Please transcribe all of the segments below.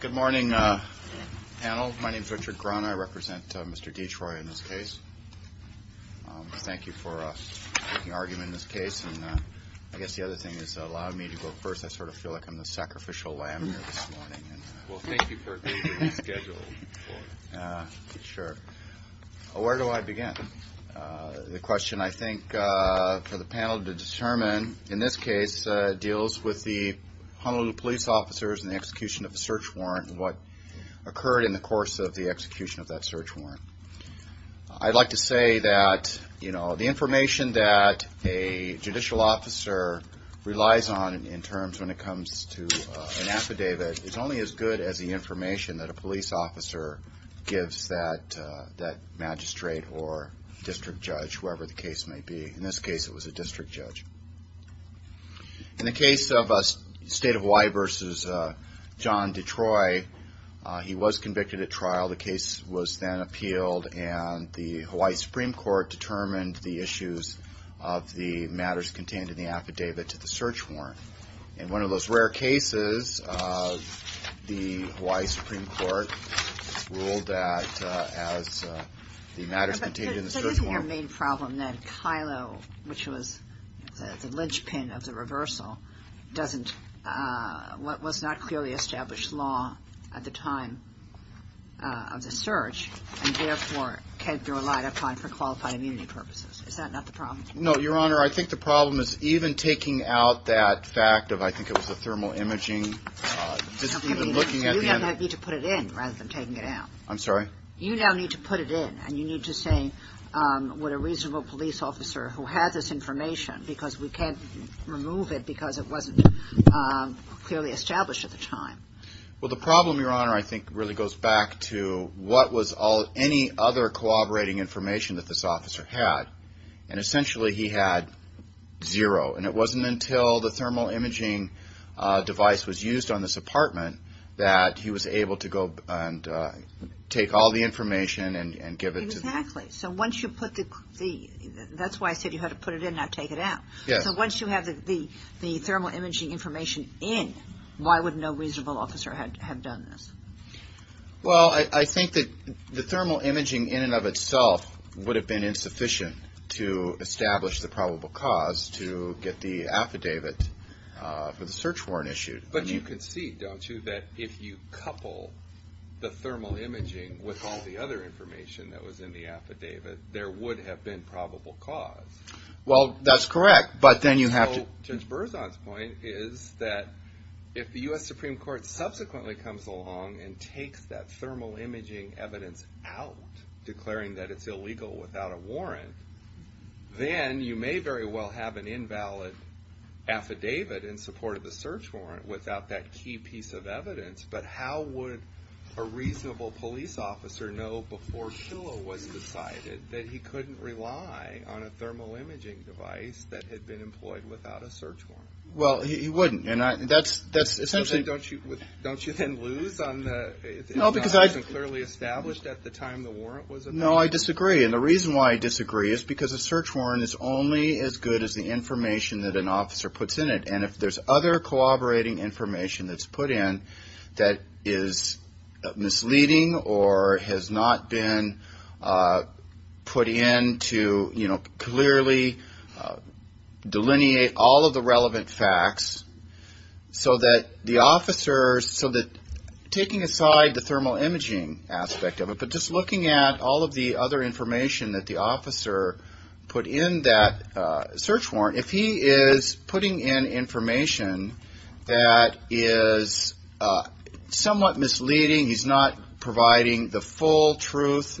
Good morning, panel. My name is Richard Cronin. I represent Mr. Detroy in this case. Thank you for making argument in this case. I guess the other thing is allowing me to go first. I sort of feel like I'm the sacrificial lamb here this morning. Well, thank you for making the schedule for it. Where do I begin? The question I think for the panel to determine in this case deals with the Honolulu police officers and the execution of a search warrant and what occurred in the course of the execution of that search warrant. I'd like to say that the information that a judicial officer relies on in terms when it comes to an affidavit is only as good as the information that a police officer gives that magistrate or district judge, whoever the case may be. In this case it was a district judge. In the case of State of Hawaii v. John Detroit, he was convicted at trial. The case was then appealed and the Hawaii Supreme Court determined the issues of the matters contained in the affidavit to the search warrant. In one of those rare cases, the Hawaii Supreme Court ruled that as the matters contained in the search warrant... But isn't your main problem that KILO, which was the linchpin of the reversal, was not clearly established law at the time of the search and therefore relied upon for qualified immunity purposes? Is that not the problem? No, Your Honor. I think the problem is even taking out that fact of I think it was the thermal imaging... You now need to put it in rather than taking it out. I'm sorry? You now need to put it in and you need to say what a reasonable police officer who had this information because we can't remove it because it wasn't clearly established at the time. Well, the problem, Your Honor, I think really goes back to what was any other corroborating information that this officer had. And essentially he had zero. And it wasn't until the thermal imaging device was used on this apartment that he was able to go and take all the information and give it to... So once you put the... That's why I said you had to put it in, not take it out. So once you have the thermal imaging information in, why would no reasonable officer have done this? Well, I think that the thermal imaging in and of itself would have been insufficient to establish the probable cause to get the affidavit for the search warrant issued. But you can see, don't you, that if you couple the thermal imaging with all the other information that was in the affidavit, there would have been probable cause. Well, that's correct, but then you have to... And Burzon's point is that if the U.S. Supreme Court subsequently comes along and takes that thermal imaging evidence out, declaring that it's illegal without a warrant, then you may very well have an invalid affidavit in support of the search warrant without that key piece of evidence. But how would a reasonable police officer know before Shillow was decided that he couldn't rely on a thermal imaging device that had been employed without a search warrant? Well, he wouldn't. And that's essentially... Don't you then lose on the... No, because I... It's not as clearly established at the time the warrant was... that is misleading or has not been put in to clearly delineate all of the relevant facts so that the officers... But just looking at all of the other information that the officer put in that search warrant, if he is putting in information that is somewhat misleading, he's not providing the full truth.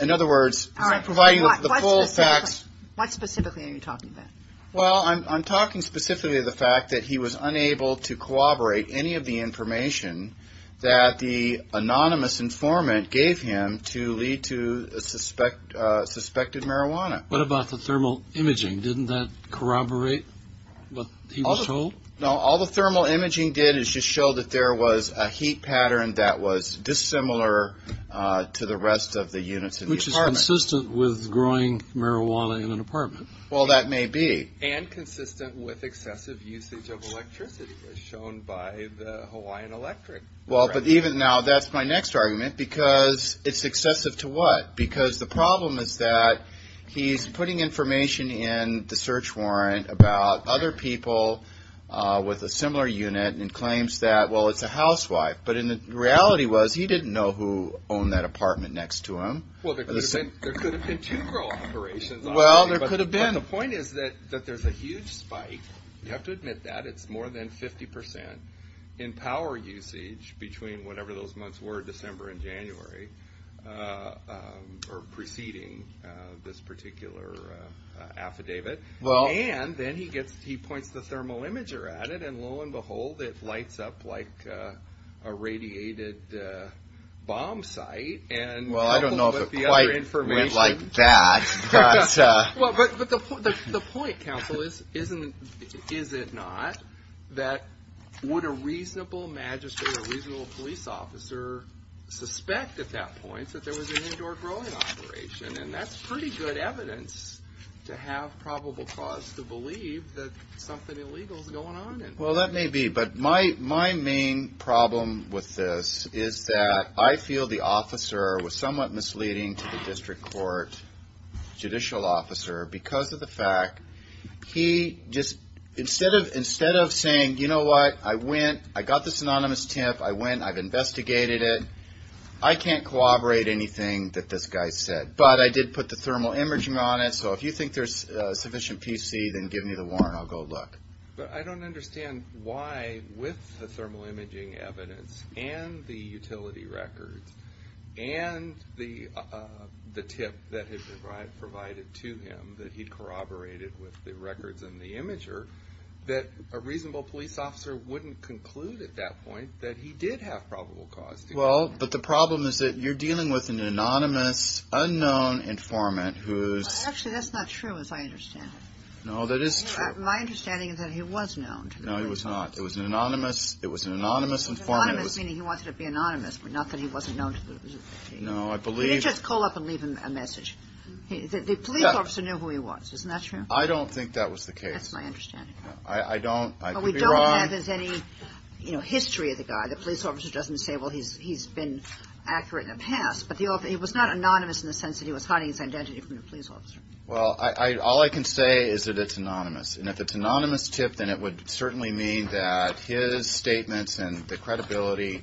In other words, he's not providing the full facts. What specifically are you talking about? Well, I'm talking specifically of the fact that he was unable to corroborate any of the information that the anonymous informant gave him to lead to suspected marijuana. What about the thermal imaging? Didn't that corroborate what he was told? No, all the thermal imaging did is just show that there was a heat pattern that was dissimilar to the rest of the units in the apartment. Which is consistent with growing marijuana in an apartment. Well, that may be. And consistent with excessive usage of electricity as shown by the Hawaiian Electric. Well, but even now, that's my next argument because it's excessive to what? Because the problem is that he's putting information in the search warrant about other people with a similar unit and claims that, well, it's a housewife. But the reality was he didn't know who owned that apartment next to him. Well, there could have been two girl operations. Well, there could have been. But the point is that there's a huge spike. You have to admit that. It's more than 50% in power usage between whatever those months were, December and January, or preceding this particular affidavit. And then he points the thermal imager at it, and lo and behold, it lights up like a radiated bomb site. Well, I don't know if it quite went like that. But the point, counsel, is it not that would a reasonable magistrate or reasonable police officer suspect at that point that there was an indoor growing operation? And that's pretty good evidence to have probable cause to believe that something illegal is going on. Well, that may be. But my main problem with this is that I feel the officer was somewhat misleading to the district court judicial officer because of the fact he just, instead of saying, you know what, I went, I got this anonymous tip, I went, I've investigated it, I can't corroborate anything that this guy said. But I did put the thermal imaging on it. So if you think there's sufficient PC, then give me the warrant. I'll go look. But I don't understand why, with the thermal imaging evidence and the utility records and the tip that had been provided to him, that he'd corroborated with the records and the imager, that a reasonable police officer wouldn't conclude at that point that he did have probable cause. Well, but the problem is that you're dealing with an anonymous, unknown informant who's... Actually, that's not true as I understand it. No, that is true. My understanding is that he was known to the police. No, he was not. It was an anonymous informant. Anonymous, meaning he wanted to be anonymous, but not that he wasn't known to the police. No, I believe... He didn't just call up and leave a message. The police officer knew who he was. Isn't that true? I don't think that was the case. That's my understanding. I don't... But we don't have any, you know, history of the guy. The police officer doesn't say, well, he's been accurate in the past. But it was not anonymous in the sense that he was hiding his identity from the police officer. Well, all I can say is that it's anonymous. And if it's an anonymous tip, then it would certainly mean that his statements and the credibility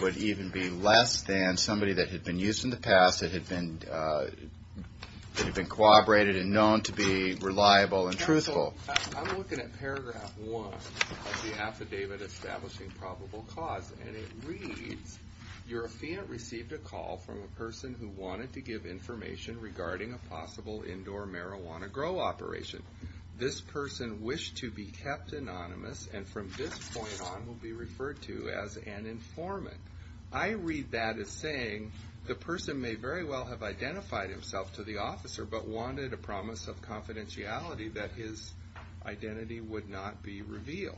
would even be less than somebody that had been used in the past, that had been corroborated and known to be reliable and truthful. Counsel, I'm looking at paragraph one of the affidavit establishing probable cause. And it reads, your affiant received a call from a person who wanted to give information regarding a possible indoor marijuana grow operation. This person wished to be kept anonymous and from this point on will be referred to as an informant. I read that as saying the person may very well have identified himself to the officer but wanted a promise of confidentiality that his identity would not be revealed.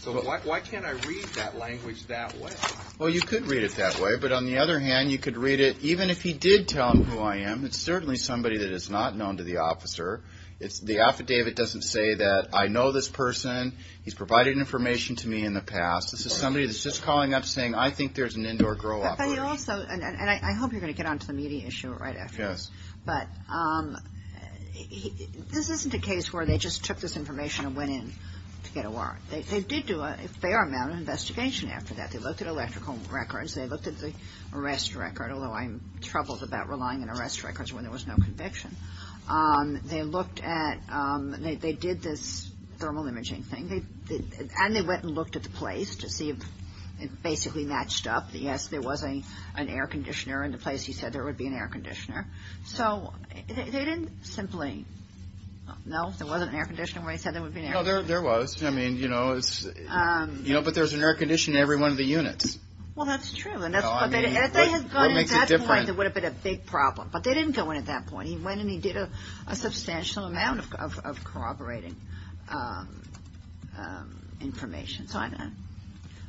So why can't I read that language that way? Well, you could read it that way. But on the other hand, you could read it even if he did tell him who I am. It's certainly somebody that is not known to the officer. The affidavit doesn't say that I know this person. He's provided information to me in the past. This is somebody that's just calling up saying I think there's an indoor grow operation. But he also, and I hope you're going to get onto the media issue right after this. Yes. But this isn't a case where they just took this information and went in to get a warrant. They did do a fair amount of investigation after that. They looked at electrical records. They looked at the arrest record, although I'm troubled about relying on arrest records when there was no conviction. They looked at, they did this thermal imaging thing. And they went and looked at the place to see if it basically matched up. Yes, there was an air conditioner in the place. He said there would be an air conditioner. So they didn't simply, no, there wasn't an air conditioner where he said there would be an air conditioner. No, there was. I mean, you know, but there's an air conditioner in every one of the units. Well, that's true. And if they had gone in at that point, it would have been a big problem. But they didn't go in at that point. He went and he did a substantial amount of corroborating information.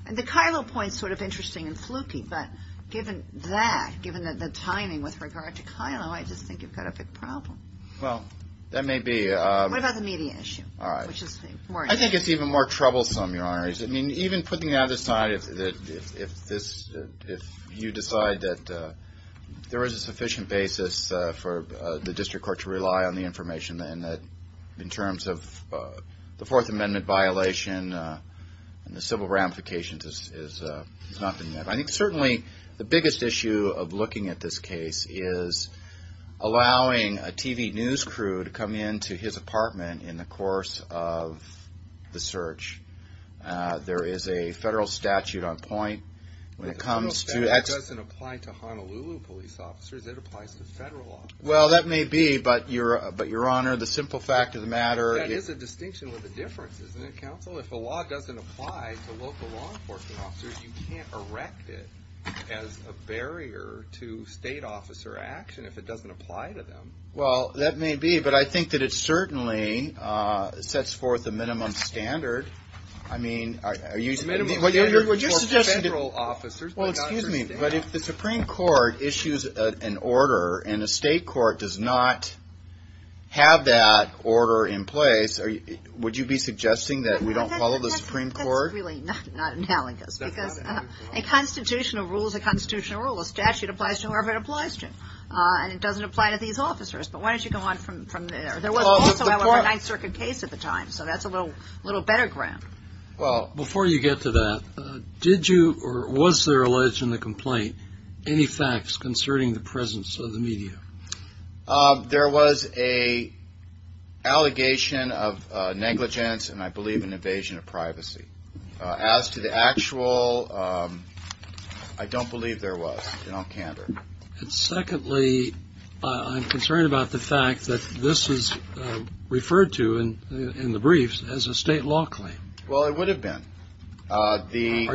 And the Kylo point is sort of interesting and fluky. But given that, given the timing with regard to Kylo, I just think you've got a big problem. Well, that may be. What about the media issue? All right. I think it's even more troublesome, Your Honor. I mean, even putting that aside, if you decide that there is a sufficient basis for the district court to rely on the information and that in terms of the Fourth Amendment violation and the civil ramifications, it's nothing there. I think certainly the biggest issue of looking at this case is allowing a TV news crew to come into his apartment in the course of the search. There is a federal statute on point when it comes to that. The federal statute doesn't apply to Honolulu police officers. It applies to federal officers. Well, that may be. But, Your Honor, the simple fact of the matter is. Well, if the law doesn't apply to local law enforcement officers, you can't erect it as a barrier to state officer action if it doesn't apply to them. Well, that may be. But I think that it certainly sets forth a minimum standard. I mean, would you suggest that. Well, excuse me. But if the Supreme Court issues an order and a state court does not have that order in place, would you be suggesting that we don't follow the Supreme Court? That's really not analogous because a constitutional rule is a constitutional rule. A statute applies to whoever it applies to. And it doesn't apply to these officers. But why don't you go on from there? There was also a Ninth Circuit case at the time, so that's a little better ground. Well, before you get to that, did you or was there alleged in the complaint any facts concerning the presence of the media? There was an allegation of negligence and I believe an invasion of privacy. As to the actual, I don't believe there was in all candor. And secondly, I'm concerned about the fact that this is referred to in the briefs as a state law claim. Well, it would have been. Are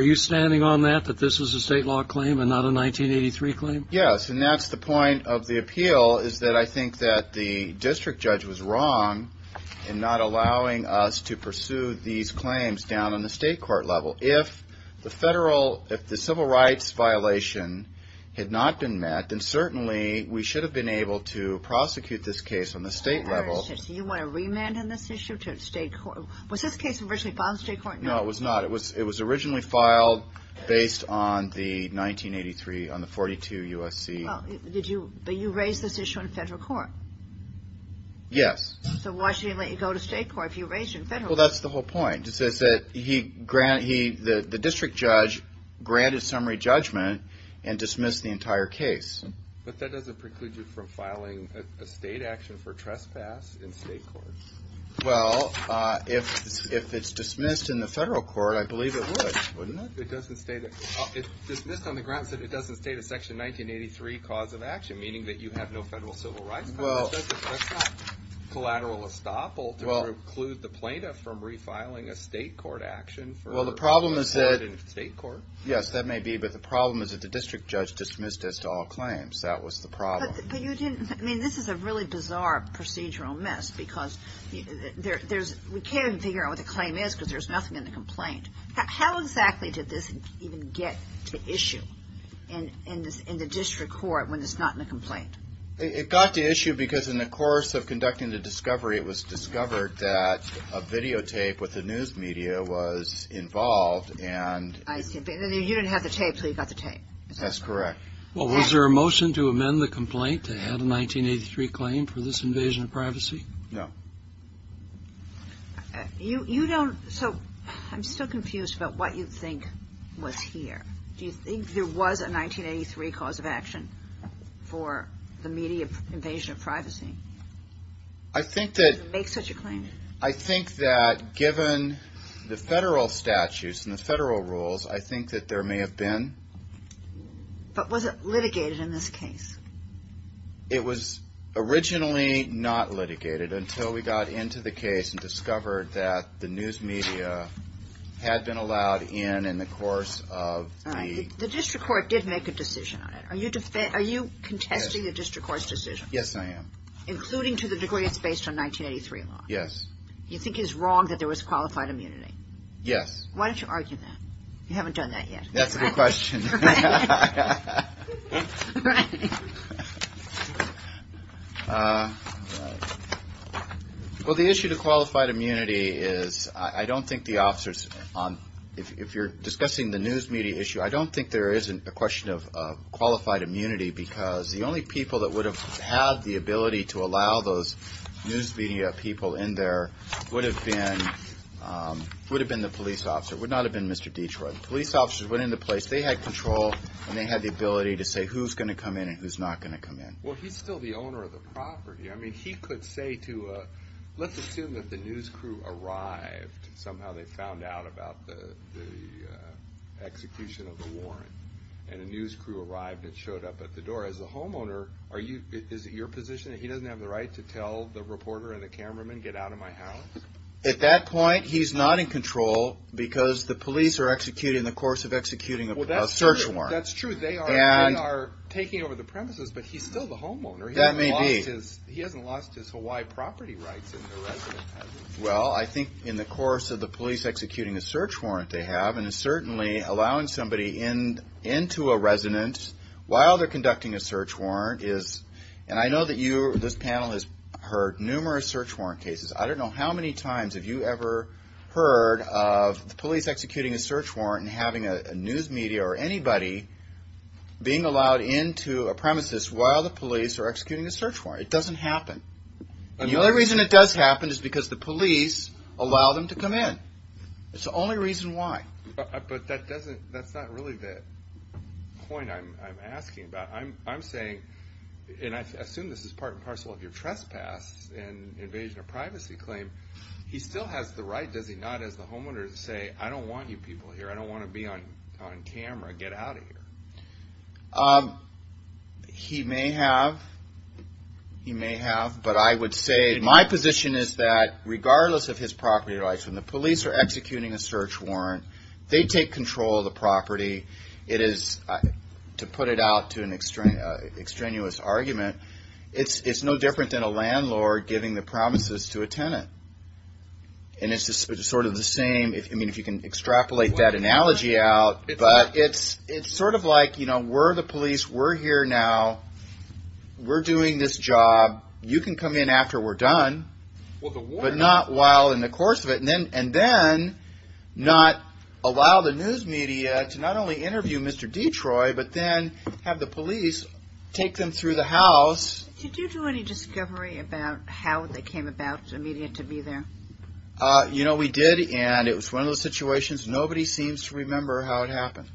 you standing on that, that this is a state law claim and not a 1983 claim? Yes, and that's the point of the appeal is that I think that the district judge was wrong in not allowing us to pursue these claims down on the state court level. If the civil rights violation had not been met, then certainly we should have been able to prosecute this case on the state level. So you want a remand on this issue? Was this case originally filed in state court? No, it was not. It was filed based on the 1983, on the 42 USC. But you raised this issue in federal court? Yes. So why should he let you go to state court if you raised it in federal court? Well, that's the whole point. It says that the district judge granted summary judgment and dismissed the entire case. But that doesn't preclude you from filing a state action for trespass in state court. Well, if it's dismissed in the federal court, I believe it would, wouldn't it? It doesn't state it. It's dismissed on the grounds that it doesn't state a Section 1983 cause of action, meaning that you have no federal civil rights. That's not collateral estoppel to preclude the plaintiff from refiling a state court action. Well, the problem is that the problem is that the district judge dismissed us to all claims. That was the problem. But you didn't – I mean, this is a really bizarre procedural mess because there's – we can't even figure out what the claim is because there's nothing in the complaint. How exactly did this even get to issue in the district court when it's not in the complaint? It got to issue because in the course of conducting the discovery, it was discovered that a videotape with the news media was involved and – I see. And then you didn't have the tape until you got the tape. That's correct. Well, was there a motion to amend the complaint to add a 1983 claim for this invasion of privacy? No. You don't – so I'm still confused about what you think was here. Do you think there was a 1983 cause of action for the media invasion of privacy? I think that – To make such a claim? I think that given the federal statutes and the federal rules, I think that there may have been. But was it litigated in this case? It was originally not litigated until we got into the case and discovered that the news media had been allowed in in the course of the – All right. The district court did make a decision on it. Are you contesting the district court's decision? Yes, I am. Including to the degree it's based on 1983 law? Yes. You think it's wrong that there was qualified immunity? Yes. Why don't you argue that? You haven't done that yet. That's a good question. Right. Right. Well, the issue to qualified immunity is I don't think the officers – if you're discussing the news media issue, I don't think there is a question of qualified immunity because the only people that would have had the ability to allow those news media people in there would have been the police officer. It would not have been Mr. Detroit. When police officers went into place, they had control and they had the ability to say who's going to come in and who's not going to come in. Well, he's still the owner of the property. I mean, he could say to a – let's assume that the news crew arrived and somehow they found out about the execution of the warrant and a news crew arrived and showed up at the door. As a homeowner, is it your position that he doesn't have the right to tell the reporter and the cameraman, get out of my house? At that point, he's not in control because the police are executing in the course of executing a search warrant. Well, that's true. They are taking over the premises, but he's still the homeowner. That may be. He hasn't lost his Hawaii property rights in the residence. Well, I think in the course of the police executing a search warrant they have and certainly allowing somebody into a residence while they're conducting a search warrant is – and I know that you, this panel, has heard numerous search warrant cases. I don't know how many times have you ever heard of the police executing a search warrant and having a news media or anybody being allowed into a premises while the police are executing a search warrant. It doesn't happen. And the only reason it does happen is because the police allow them to come in. It's the only reason why. But that doesn't – that's not really the point I'm asking about. I'm saying – and I assume this is part and parcel of your trespass and invasion of privacy claim. He still has the right, does he not, as the homeowner to say, I don't want you people here. I don't want to be on camera. Get out of here. He may have. He may have, but I would say my position is that regardless of his property rights, it is, to put it out to an extraneous argument, it's no different than a landlord giving the premises to a tenant. And it's sort of the same – I mean, if you can extrapolate that analogy out. But it's sort of like, you know, we're the police. We're here now. We're doing this job. You can come in after we're done, but not while in the course of it. And then not allow the news media to not only interview Mr. Detroit, but then have the police take them through the house. Did you do any discovery about how they came about immediately to be there? You know, we did, and it was one of those situations. Nobody seems to remember how it happened.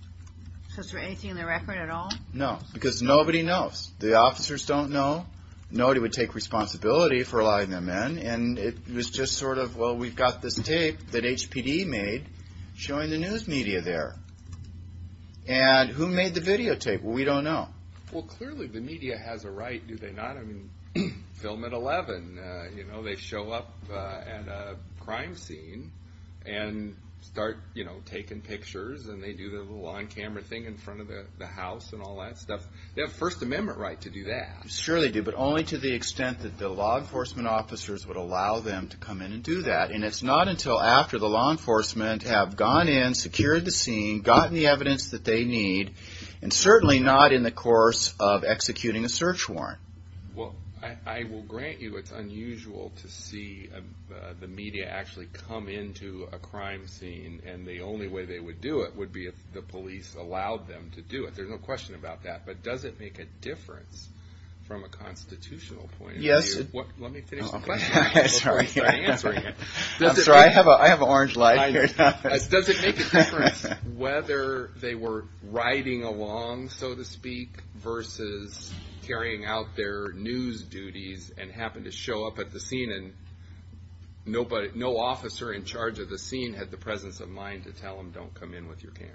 So is there anything in the record at all? No, because nobody knows. The officers don't know. Nobody would take responsibility for allowing them in. And it was just sort of, well, we've got this tape that HPD made showing the news media there. And who made the videotape? Well, we don't know. Well, clearly the media has a right, do they not? I mean, film at 11. You know, they show up at a crime scene and start, you know, taking pictures. And they do the little on-camera thing in front of the house and all that stuff. They have a First Amendment right to do that. Sure they do, but only to the extent that the law enforcement officers would allow them to come in and do that. And it's not until after the law enforcement have gone in, secured the scene, gotten the evidence that they need, and certainly not in the course of executing a search warrant. Well, I will grant you it's unusual to see the media actually come into a crime scene, and the only way they would do it would be if the police allowed them to do it. There's no question about that. But does it make a difference from a constitutional point of view? Yes. Let me finish the question before I start answering it. I'm sorry. I have an orange light here. Does it make a difference whether they were riding along, so to speak, versus carrying out their news duties and happened to show up at the scene and no officer in charge of the scene had the presence of mind to tell them, don't come in with your camera?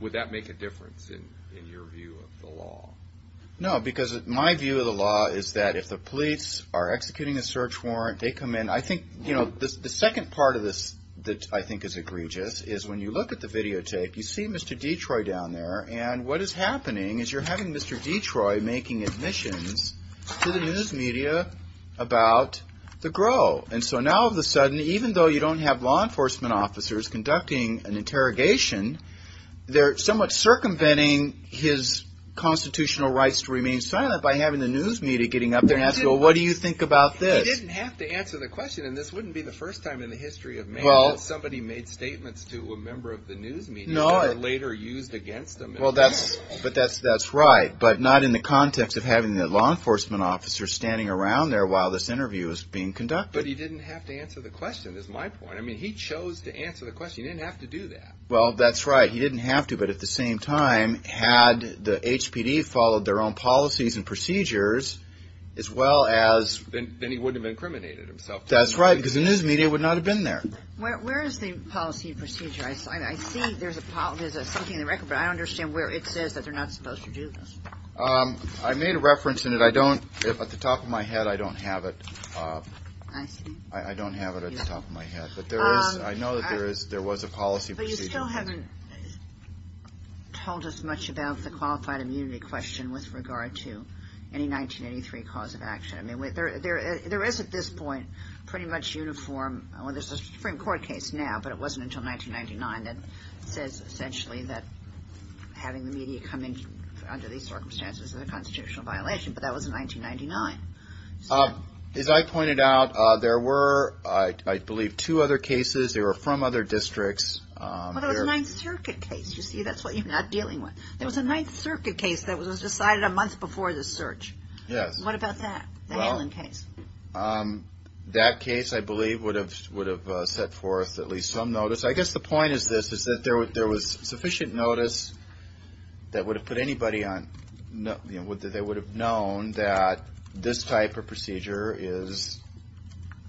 Would that make a difference in your view of the law? No, because my view of the law is that if the police are executing a search warrant, they come in. I think the second part of this that I think is egregious is when you look at the videotape, you see Mr. Detroit down there, and what is happening is you're having Mr. Detroit making admissions to the news media about the grow. And so now all of a sudden, even though you don't have law enforcement officers conducting an interrogation, they're somewhat circumventing his constitutional rights to remain silent by having the news media getting up there and asking, well, what do you think about this? He didn't have to answer the question, and this wouldn't be the first time in the history of Maine that somebody made statements to a member of the news media that were later used against them. Well, that's right, but not in the context of having the law enforcement officers standing around there while this interview is being conducted. But he didn't have to answer the question, is my point. I mean, he chose to answer the question. He didn't have to do that. Well, that's right. He didn't have to, but at the same time, had the HPD followed their own policies and procedures, as well as – Then he wouldn't have incriminated himself. That's right, because the news media would not have been there. Where is the policy and procedure? I see there's something in the record, but I don't understand where it says that they're not supposed to do this. I made a reference in it. I don't – at the top of my head, I don't have it. I see. I don't have it at the top of my head, but there is – I know that there was a policy procedure. But you still haven't told us much about the qualified immunity question with regard to any 1983 cause of action. I mean, there is at this point pretty much uniform – well, there's a Supreme Court case now, but it wasn't until 1999 that says essentially that having the media come in under these circumstances is a constitutional violation. But that was in 1999. As I pointed out, there were, I believe, two other cases. They were from other districts. Well, there was a Ninth Circuit case. You see, that's what you're not dealing with. There was a Ninth Circuit case that was decided a month before the search. Yes. What about that? The Hanlon case? That case, I believe, would have set forth at least some notice. I guess the point is this, is that there was sufficient notice that would have put anybody on – that they would have known that this type of procedure is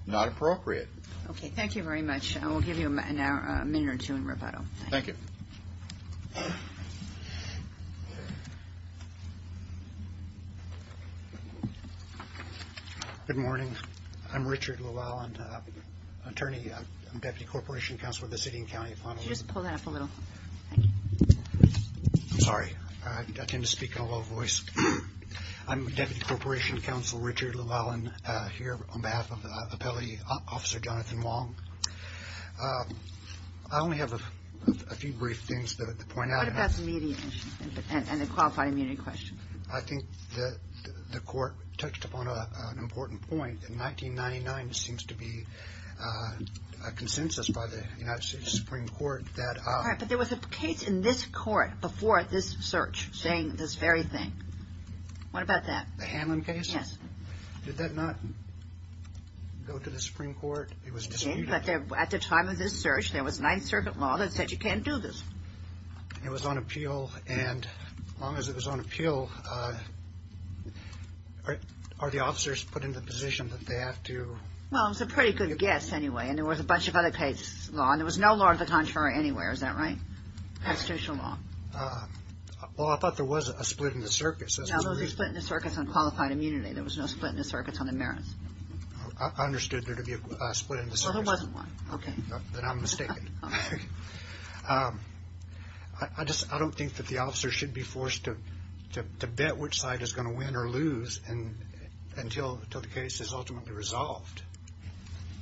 not appropriate. Okay. Thank you very much. We'll give you a minute or two in rebuttal. Thank you. Good morning. I'm Richard Llewellyn, attorney, Deputy Corporation Counsel with the City and County of Honolulu. Could you just pull that up a little? Thank you. I'm sorry. I tend to speak in a low voice. I'm Deputy Corporation Counsel Richard Llewellyn here on behalf of the appellate officer, Jonathan Wong. I only have a few brief things to point out. What about the media and the qualified immunity question? I think the court touched upon an important point. In 1999, there seems to be a consensus by the United States Supreme Court that – All right, but there was a case in this court before this search saying this very thing. What about that? The Hanlon case? Yes. Did that not go to the Supreme Court? It was disputed. It did, but at the time of this search, there was Ninth Circuit law that said you can't do this. It was on appeal, and as long as it was on appeal, are the officers put in the position that they have to – Well, it was a pretty good guess anyway, and there was a bunch of other case law, and there was no law of the contrary anywhere. Is that right? Constitutional law. Well, I thought there was a split in the circuits. No, there was a split in the circuits on qualified immunity. There was no split in the circuits on the merits. I understood there to be a split in the circuits. Well, there wasn't one. Okay, then I'm mistaken. I don't think that the officer should be forced to bet which side is going to win or lose until the case is ultimately resolved.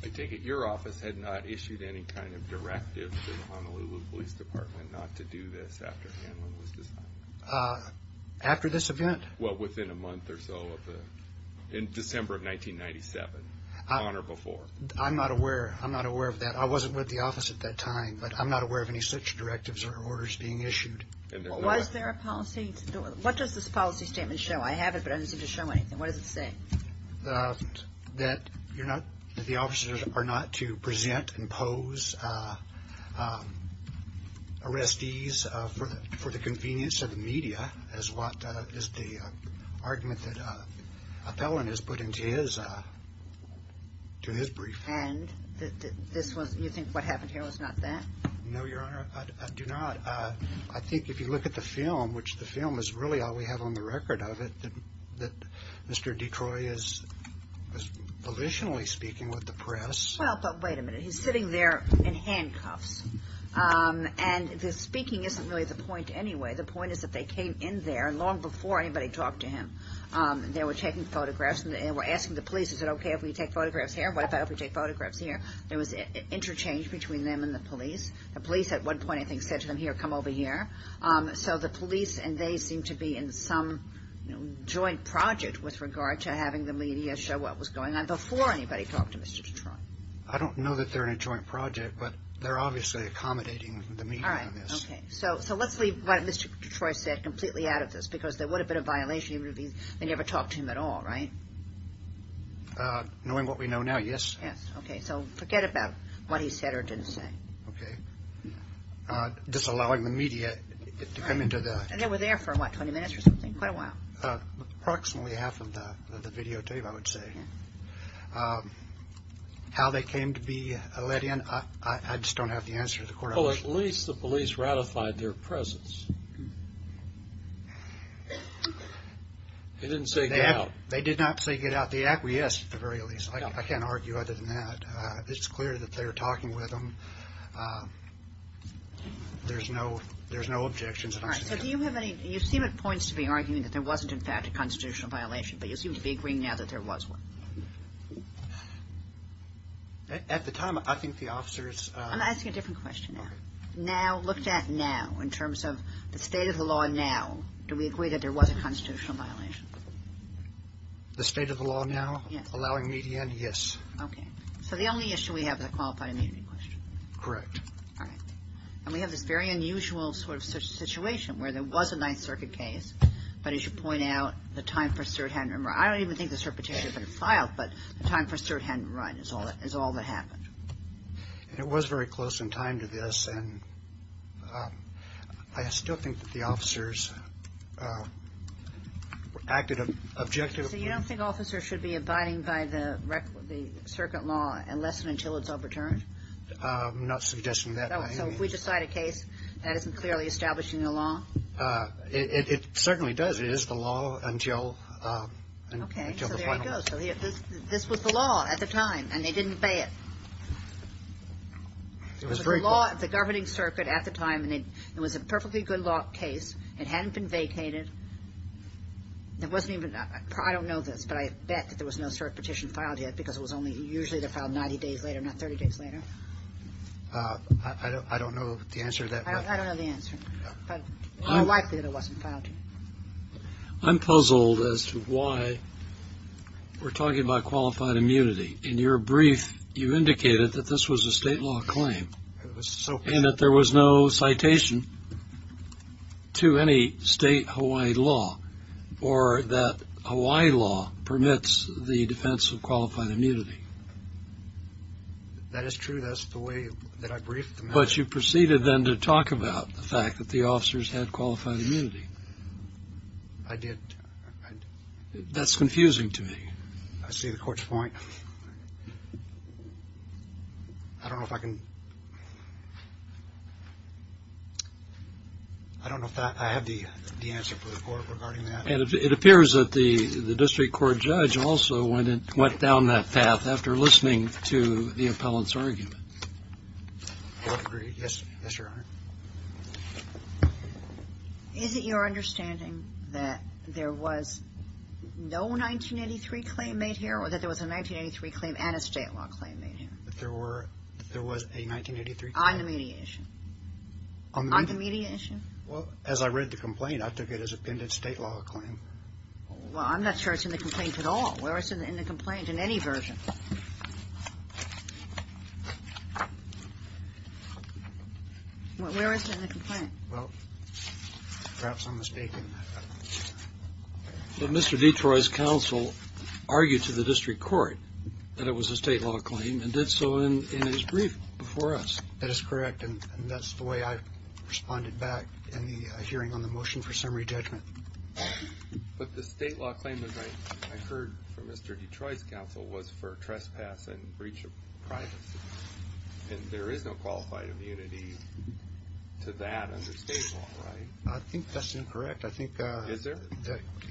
I take it your office had not issued any kind of directive to the Honolulu Police Department not to do this after Hanlon was decided. After this event? Well, within a month or so of the – in December of 1997, on or before. I'm not aware. I'm not aware of that. I wasn't with the office at that time, but I'm not aware of any such directives or orders being issued. Was there a policy – what does this policy statement show? I have it, but I didn't seem to show anything. What does it say? That you're not – that the officers are not to present and pose arrestees for the convenience of the media is what is the argument that Appellant has put into his – to his brief. And this was – you think what happened here was not that? No, Your Honor, I do not. I think if you look at the film, which the film is really all we have on the record of it, that Mr. Detroit is volitionally speaking with the press. Well, but wait a minute. He's sitting there in handcuffs, and the speaking isn't really the point anyway. The point is that they came in there long before anybody talked to him. They were taking photographs, and they were asking the police, is it okay if we take photographs here? What if I take photographs here? There was interchange between them and the police. The police at one point, I think, said to them, here, come over here. So the police and they seem to be in some joint project with regard to having the media show what was going on before anybody talked to Mr. Detroit. I don't know that they're in a joint project, but they're obviously accommodating the media on this. All right, okay. So let's leave what Mr. Detroit said completely out of this because there would have been a violation. He would have been – they never talked to him at all, right? Knowing what we know now, yes. Yes, okay. So forget about what he said or didn't say. Okay. Disallowing the media to come into the – And they were there for, what, 20 minutes or something? Quite a while. Approximately half of the videotape, I would say. How they came to be let in, I just don't have the answer to the court option. Well, at least the police ratified their presence. They didn't say get out. They did not say get out. They acquiesced, at the very least. I can't argue other than that. It's clear that they were talking with him. There's no objections. All right, so do you have any – you seem at points to be arguing that there wasn't, in fact, a constitutional violation, but you seem to be agreeing now that there was one. At the time, I think the officers – I'm asking a different question now. Okay. Now, looked at now, in terms of the state of the law now, do we agree that there was a constitutional violation? The state of the law now? Yes. Allowing media in, yes. Okay. So the only issue we have is a qualified immunity question. Correct. All right. And we have this very unusual sort of situation where there was a Ninth Circuit case, but as you point out, the time for cert hadn't been run. I don't even think the cert petition had been filed, but the time for cert hadn't been run is all that happened. And it was very close in time to this, and I still think that the officers acted objectively. So you don't think officers should be abiding by the circuit law unless and until it's overturned? I'm not suggesting that. So if we decide a case, that isn't clearly establishing the law? It certainly does. It is the law until the final. Okay. So there you go. So this was the law at the time, and they didn't bay it. It was very close. It was the law at the governing circuit at the time, and it was a perfectly good law case. It hadn't been vacated. I don't know this, but I bet that there was no cert petition filed yet because it was only usually filed 90 days later, not 30 days later. I don't know the answer to that. I don't know the answer, but more likely that it wasn't filed. I'm puzzled as to why we're talking about qualified immunity. In your brief, you indicated that this was a state law claim and that there was no citation to any state Hawaii law or that Hawaii law permits the defense of qualified immunity. That is true. That's the way that I briefed them. But you proceeded then to talk about the fact that the officers had qualified immunity. I did. That's confusing to me. I see the court's point. I don't know if I can – I don't know if I have the answer for the court regarding that. It appears that the district court judge also went down that path after listening to the appellant's argument. Yes, Your Honor. Is it your understanding that there was no 1983 claim made here or that there was a 1983 claim and a state law claim made here? That there was a 1983 claim? On the mediation. On the mediation? Well, as I read the complaint, I took it as a pending state law claim. Well, I'm not sure it's in the complaint at all. Where is it in the complaint in any version? Where is it in the complaint? Well, perhaps I'm mistaken. But Mr. Detroit's counsel argued to the district court that it was a state law claim and did so in his brief before us. That is correct, and that's the way I responded back in the hearing on the motion for summary judgment. But the state law claim, as I heard from Mr. Detroit's counsel, was for trespass and breach of privacy. And there is no qualified immunity to that under state law, right? I think that's incorrect. Is there?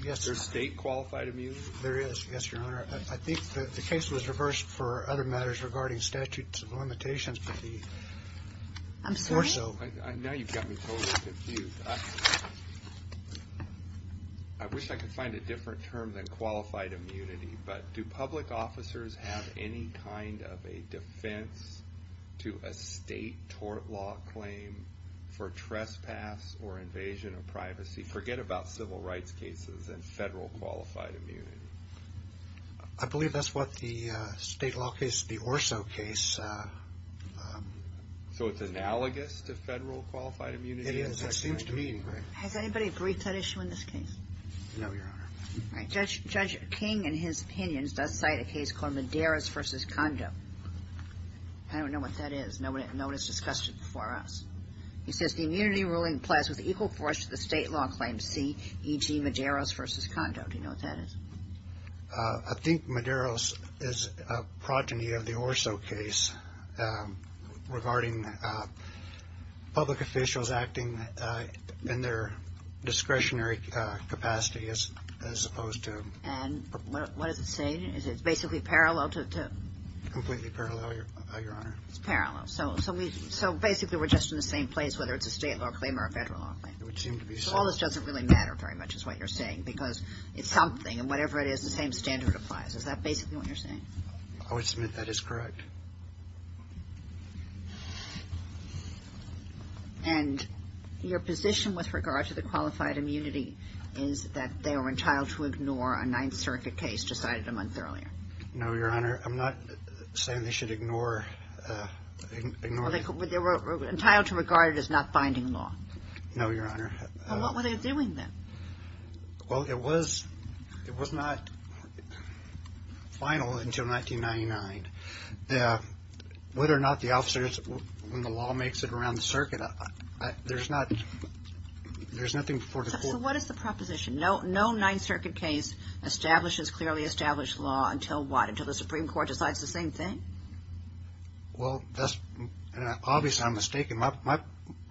Yes. There's state qualified immunity? There is, yes, Your Honor. I think the case was reversed for other matters regarding statutes of limitations. I'm sorry? Now you've got me totally confused. I wish I could find a different term than qualified immunity, but do public officers have any kind of a defense to a state tort law claim for trespass or invasion of privacy? Forget about civil rights cases and federal qualified immunity. I believe that's what the state law case, the Orso case. So it's analogous to federal qualified immunity? It is. That seems to me. Has anybody briefed that issue in this case? No, Your Honor. All right. Judge King, in his opinions, does cite a case called Medeiros v. Condo. I don't know what that is. No one has discussed it before us. He says the immunity ruling applies with equal force to the state law claim C, e.g., Medeiros v. Condo. Do you know what that is? I think Medeiros is a progeny of the Orso case regarding public officials acting in their discretionary capacity as opposed to. And what does it say? Is it basically parallel to? Completely parallel, Your Honor. It's parallel. So basically we're just in the same place, whether it's a state law claim or a federal law claim. It would seem to be the same. So all this doesn't really matter very much is what you're saying because it's something, and whatever it is, the same standard applies. Is that basically what you're saying? I would submit that is correct. And your position with regard to the qualified immunity is that they are entitled to ignore a Ninth Circuit case decided a month earlier? No, Your Honor. I'm not saying they should ignore it. But they were entitled to regard it as not binding law. No, Your Honor. Well, what were they doing then? Well, it was not final until 1999. Whether or not the officers, when the law makes it around the circuit, there's nothing before the court. So what is the proposition? No Ninth Circuit case establishes clearly established law until what? Until the Supreme Court decides the same thing? Well, obviously I'm mistaken.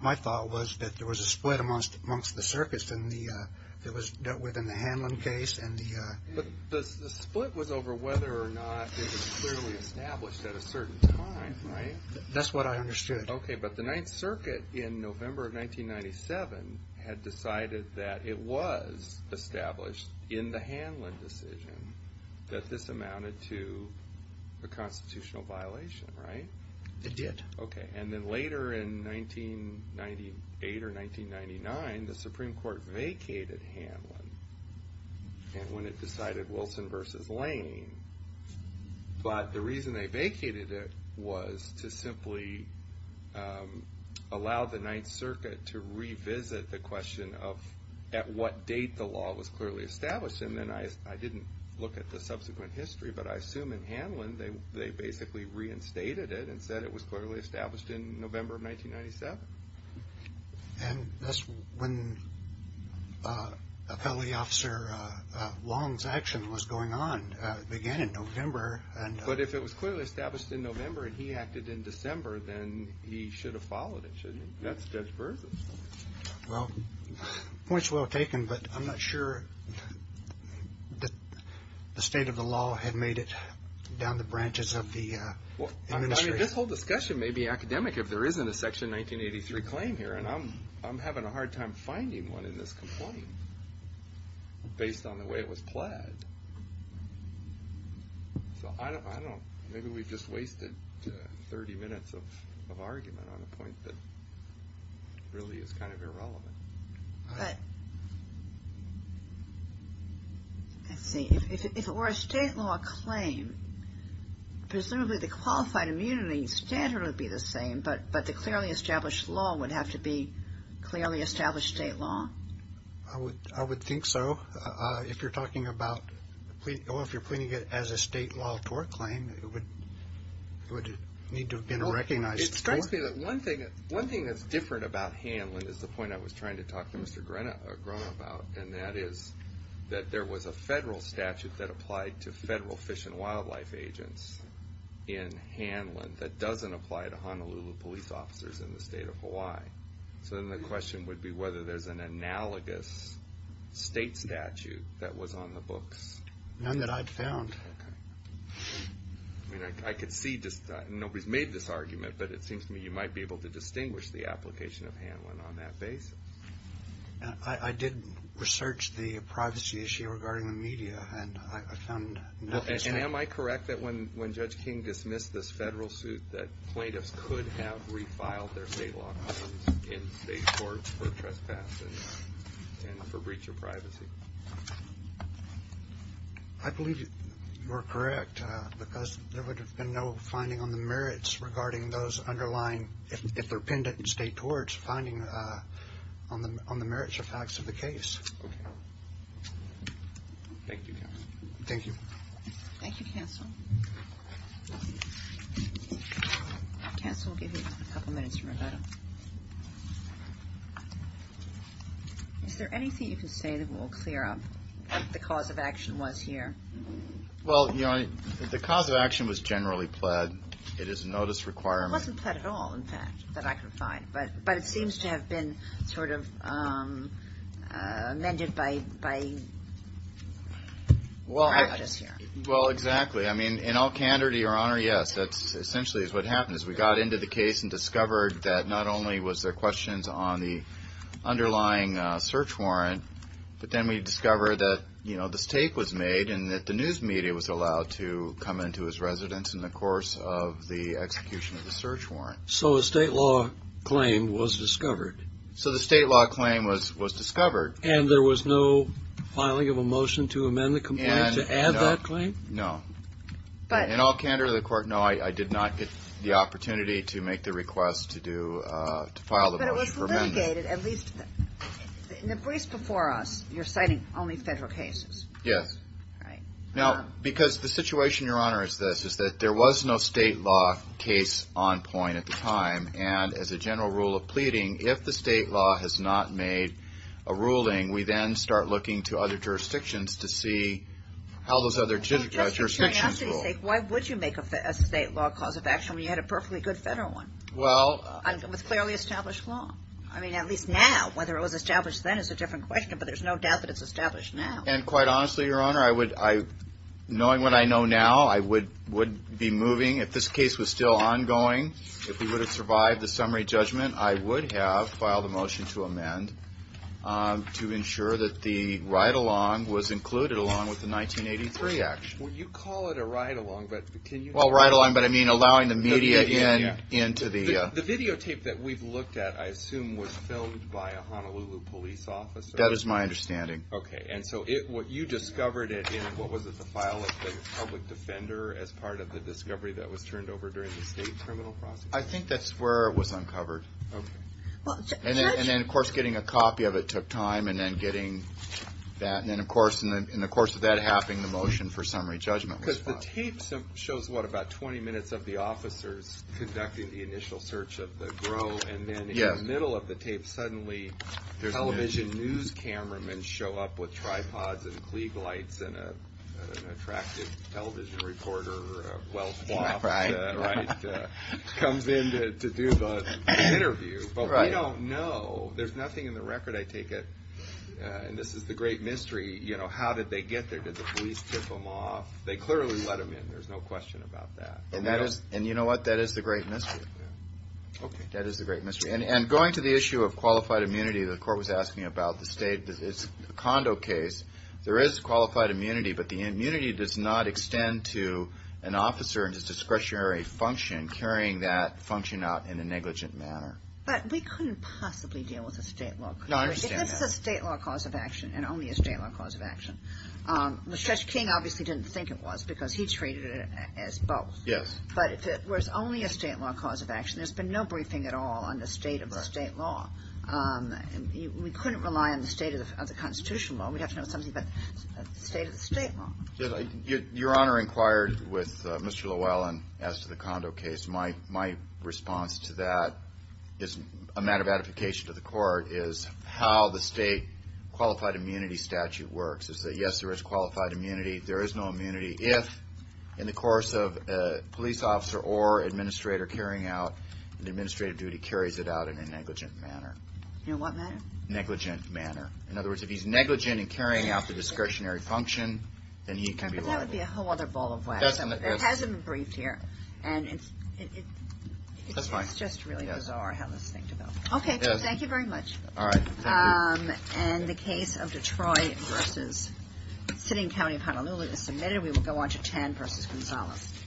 My thought was that there was a split amongst the circuits that was dealt with in the Hanlon case. But the split was over whether or not it was clearly established at a certain time, right? That's what I understood. Okay, but the Ninth Circuit in November of 1997 had decided that it was established in the Hanlon decision that this amounted to a constitutional violation, right? It did. Okay, and then later in 1998 or 1999, the Supreme Court vacated Hanlon when it decided Wilson v. Lane. But the reason they vacated it was to simply allow the Ninth Circuit to revisit the question of at what date the law was clearly established. And then I didn't look at the subsequent history, but I assume in Hanlon they basically reinstated it and said it was clearly established in November of 1997. And that's when Appellee Officer Long's action was going on. It began in November. But if it was clearly established in November and he acted in December, then he should have followed it, shouldn't he? That's Judge Berthels. Well, point's well taken, but I'm not sure the state of the law had made it down the branches of the administration. Well, I mean, this whole discussion may be academic if there isn't a Section 1983 claim here, and I'm having a hard time finding one in this complaint based on the way it was plaid. So maybe we've just wasted 30 minutes of argument on a point that really is kind of irrelevant. But let's see. If it were a state law claim, presumably the qualified immunity standard would be the same, but the clearly established law would have to be clearly established state law? I would think so. If you're talking about if you're pleading it as a state law tort claim, it would need to have been recognized. It strikes me that one thing that's different about Hanlon is the point I was trying to talk to Mr. Grona about, and that is that there was a federal statute that applied to federal fish and wildlife agents in Hanlon that doesn't apply to Honolulu police officers in the state of Hawaii. So then the question would be whether there's an analogous state statute that was on the books. None that I've found. I could see nobody's made this argument, but it seems to me you might be able to distinguish the application of Hanlon on that basis. I did research the privacy issue regarding the media, and I found nothing. And am I correct that when Judge King dismissed this federal suit, that plaintiffs could have refiled their state law claims in state courts for trespass and for breach of privacy? I believe you're correct, because there would have been no finding on the merits regarding those underlying, if they're pendent in state courts, finding on the merits or facts of the case. Okay. Thank you, Counsel. Thank you. Thank you, Counsel. Counsel, I'll give you a couple minutes for a minute. Is there anything you can say that will clear up what the cause of action was here? Well, you know, the cause of action was generally pled. It is a notice requirement. It wasn't pled at all, in fact, that I could find. But it seems to have been sort of amended by practice here. Well, exactly. I mean, in all candor, to your honor, yes. We got into the case and discovered that not only was there questions on the underlying search warrant, but then we discovered that, you know, this tape was made and that the news media was allowed to come into his residence in the course of the execution of the search warrant. So a state law claim was discovered. So the state law claim was discovered. And there was no filing of a motion to amend the complaint to add that claim? No. In all candor to the court, no, I did not get the opportunity to make the request to file the motion for amendment. But it was litigated. At least in the briefs before us, you're citing only federal cases. Yes. All right. Now, because the situation, your honor, is this, is that there was no state law case on point at the time. And as a general rule of pleading, if the state law has not made a ruling, we then start looking to other jurisdictions to see how those other jurisdictions rule. Why would you make a state law cause of action when you had a perfectly good federal one? Well. With fairly established law. I mean, at least now, whether it was established then is a different question. But there's no doubt that it's established now. And quite honestly, your honor, knowing what I know now, I would be moving. If this case was still ongoing, if we would have survived the summary judgment, I would have filed a motion to amend to ensure that the ride-along was included along with the 1983 action. Well, you call it a ride-along. Well, ride-along, but I mean allowing the media in. The videotape that we've looked at, I assume, was filmed by a Honolulu police officer. That is my understanding. Okay. And so you discovered it in, what was it, the file of the public defender as part of the discovery that was turned over during the state criminal process? I think that's where it was uncovered. Okay. And then, of course, getting a copy of it took time, and then getting that. And then, of course, in the course of that happening, the motion for summary judgment was filed. Because the tape shows, what, about 20 minutes of the officers conducting the initial search of the GRO. And then in the middle of the tape, suddenly television news cameramen show up with tripods and Klieg lights and an attractive television reporter, well-flopped, comes in to do the interview. But we don't know. There's nothing in the record, I take it. And this is the great mystery. How did they get there? Did the police tip them off? They clearly let them in. There's no question about that. And you know what? That is the great mystery. Okay. That is the great mystery. And going to the issue of qualified immunity, the court was asking about the state. It's a condo case. There is qualified immunity, but the immunity does not extend to an officer and his discretionary function carrying that function out in a negligent manner. But we couldn't possibly deal with the state law. No, I understand that. If this is a state law cause of action, and only a state law cause of action, Mr. King obviously didn't think it was because he treated it as both. Yes. But if it was only a state law cause of action, there's been no briefing at all on the state of the state law. We couldn't rely on the state of the constitutional law. We'd have to know something about the state of the state law. Your Honor inquired with Mr. Llewellyn as to the condo case. My response to that is a matter of edification to the court, is how the state qualified immunity statute works, is that, yes, there is qualified immunity. There is no immunity if, in the course of a police officer or administrator carrying out an administrative duty, carries it out in a negligent manner. In what manner? Negligent manner. In other words, if he's negligent in carrying out the discretionary function, then he can be liable. But that would be a whole other ball of wax. It hasn't been briefed here. That's fine. It's just really bizarre how this thing developed. Okay, thank you very much. All right. Thank you. And the case of Detroit v. Sitting County of Honolulu is submitted. We will go on to Tan v. Gonzalez.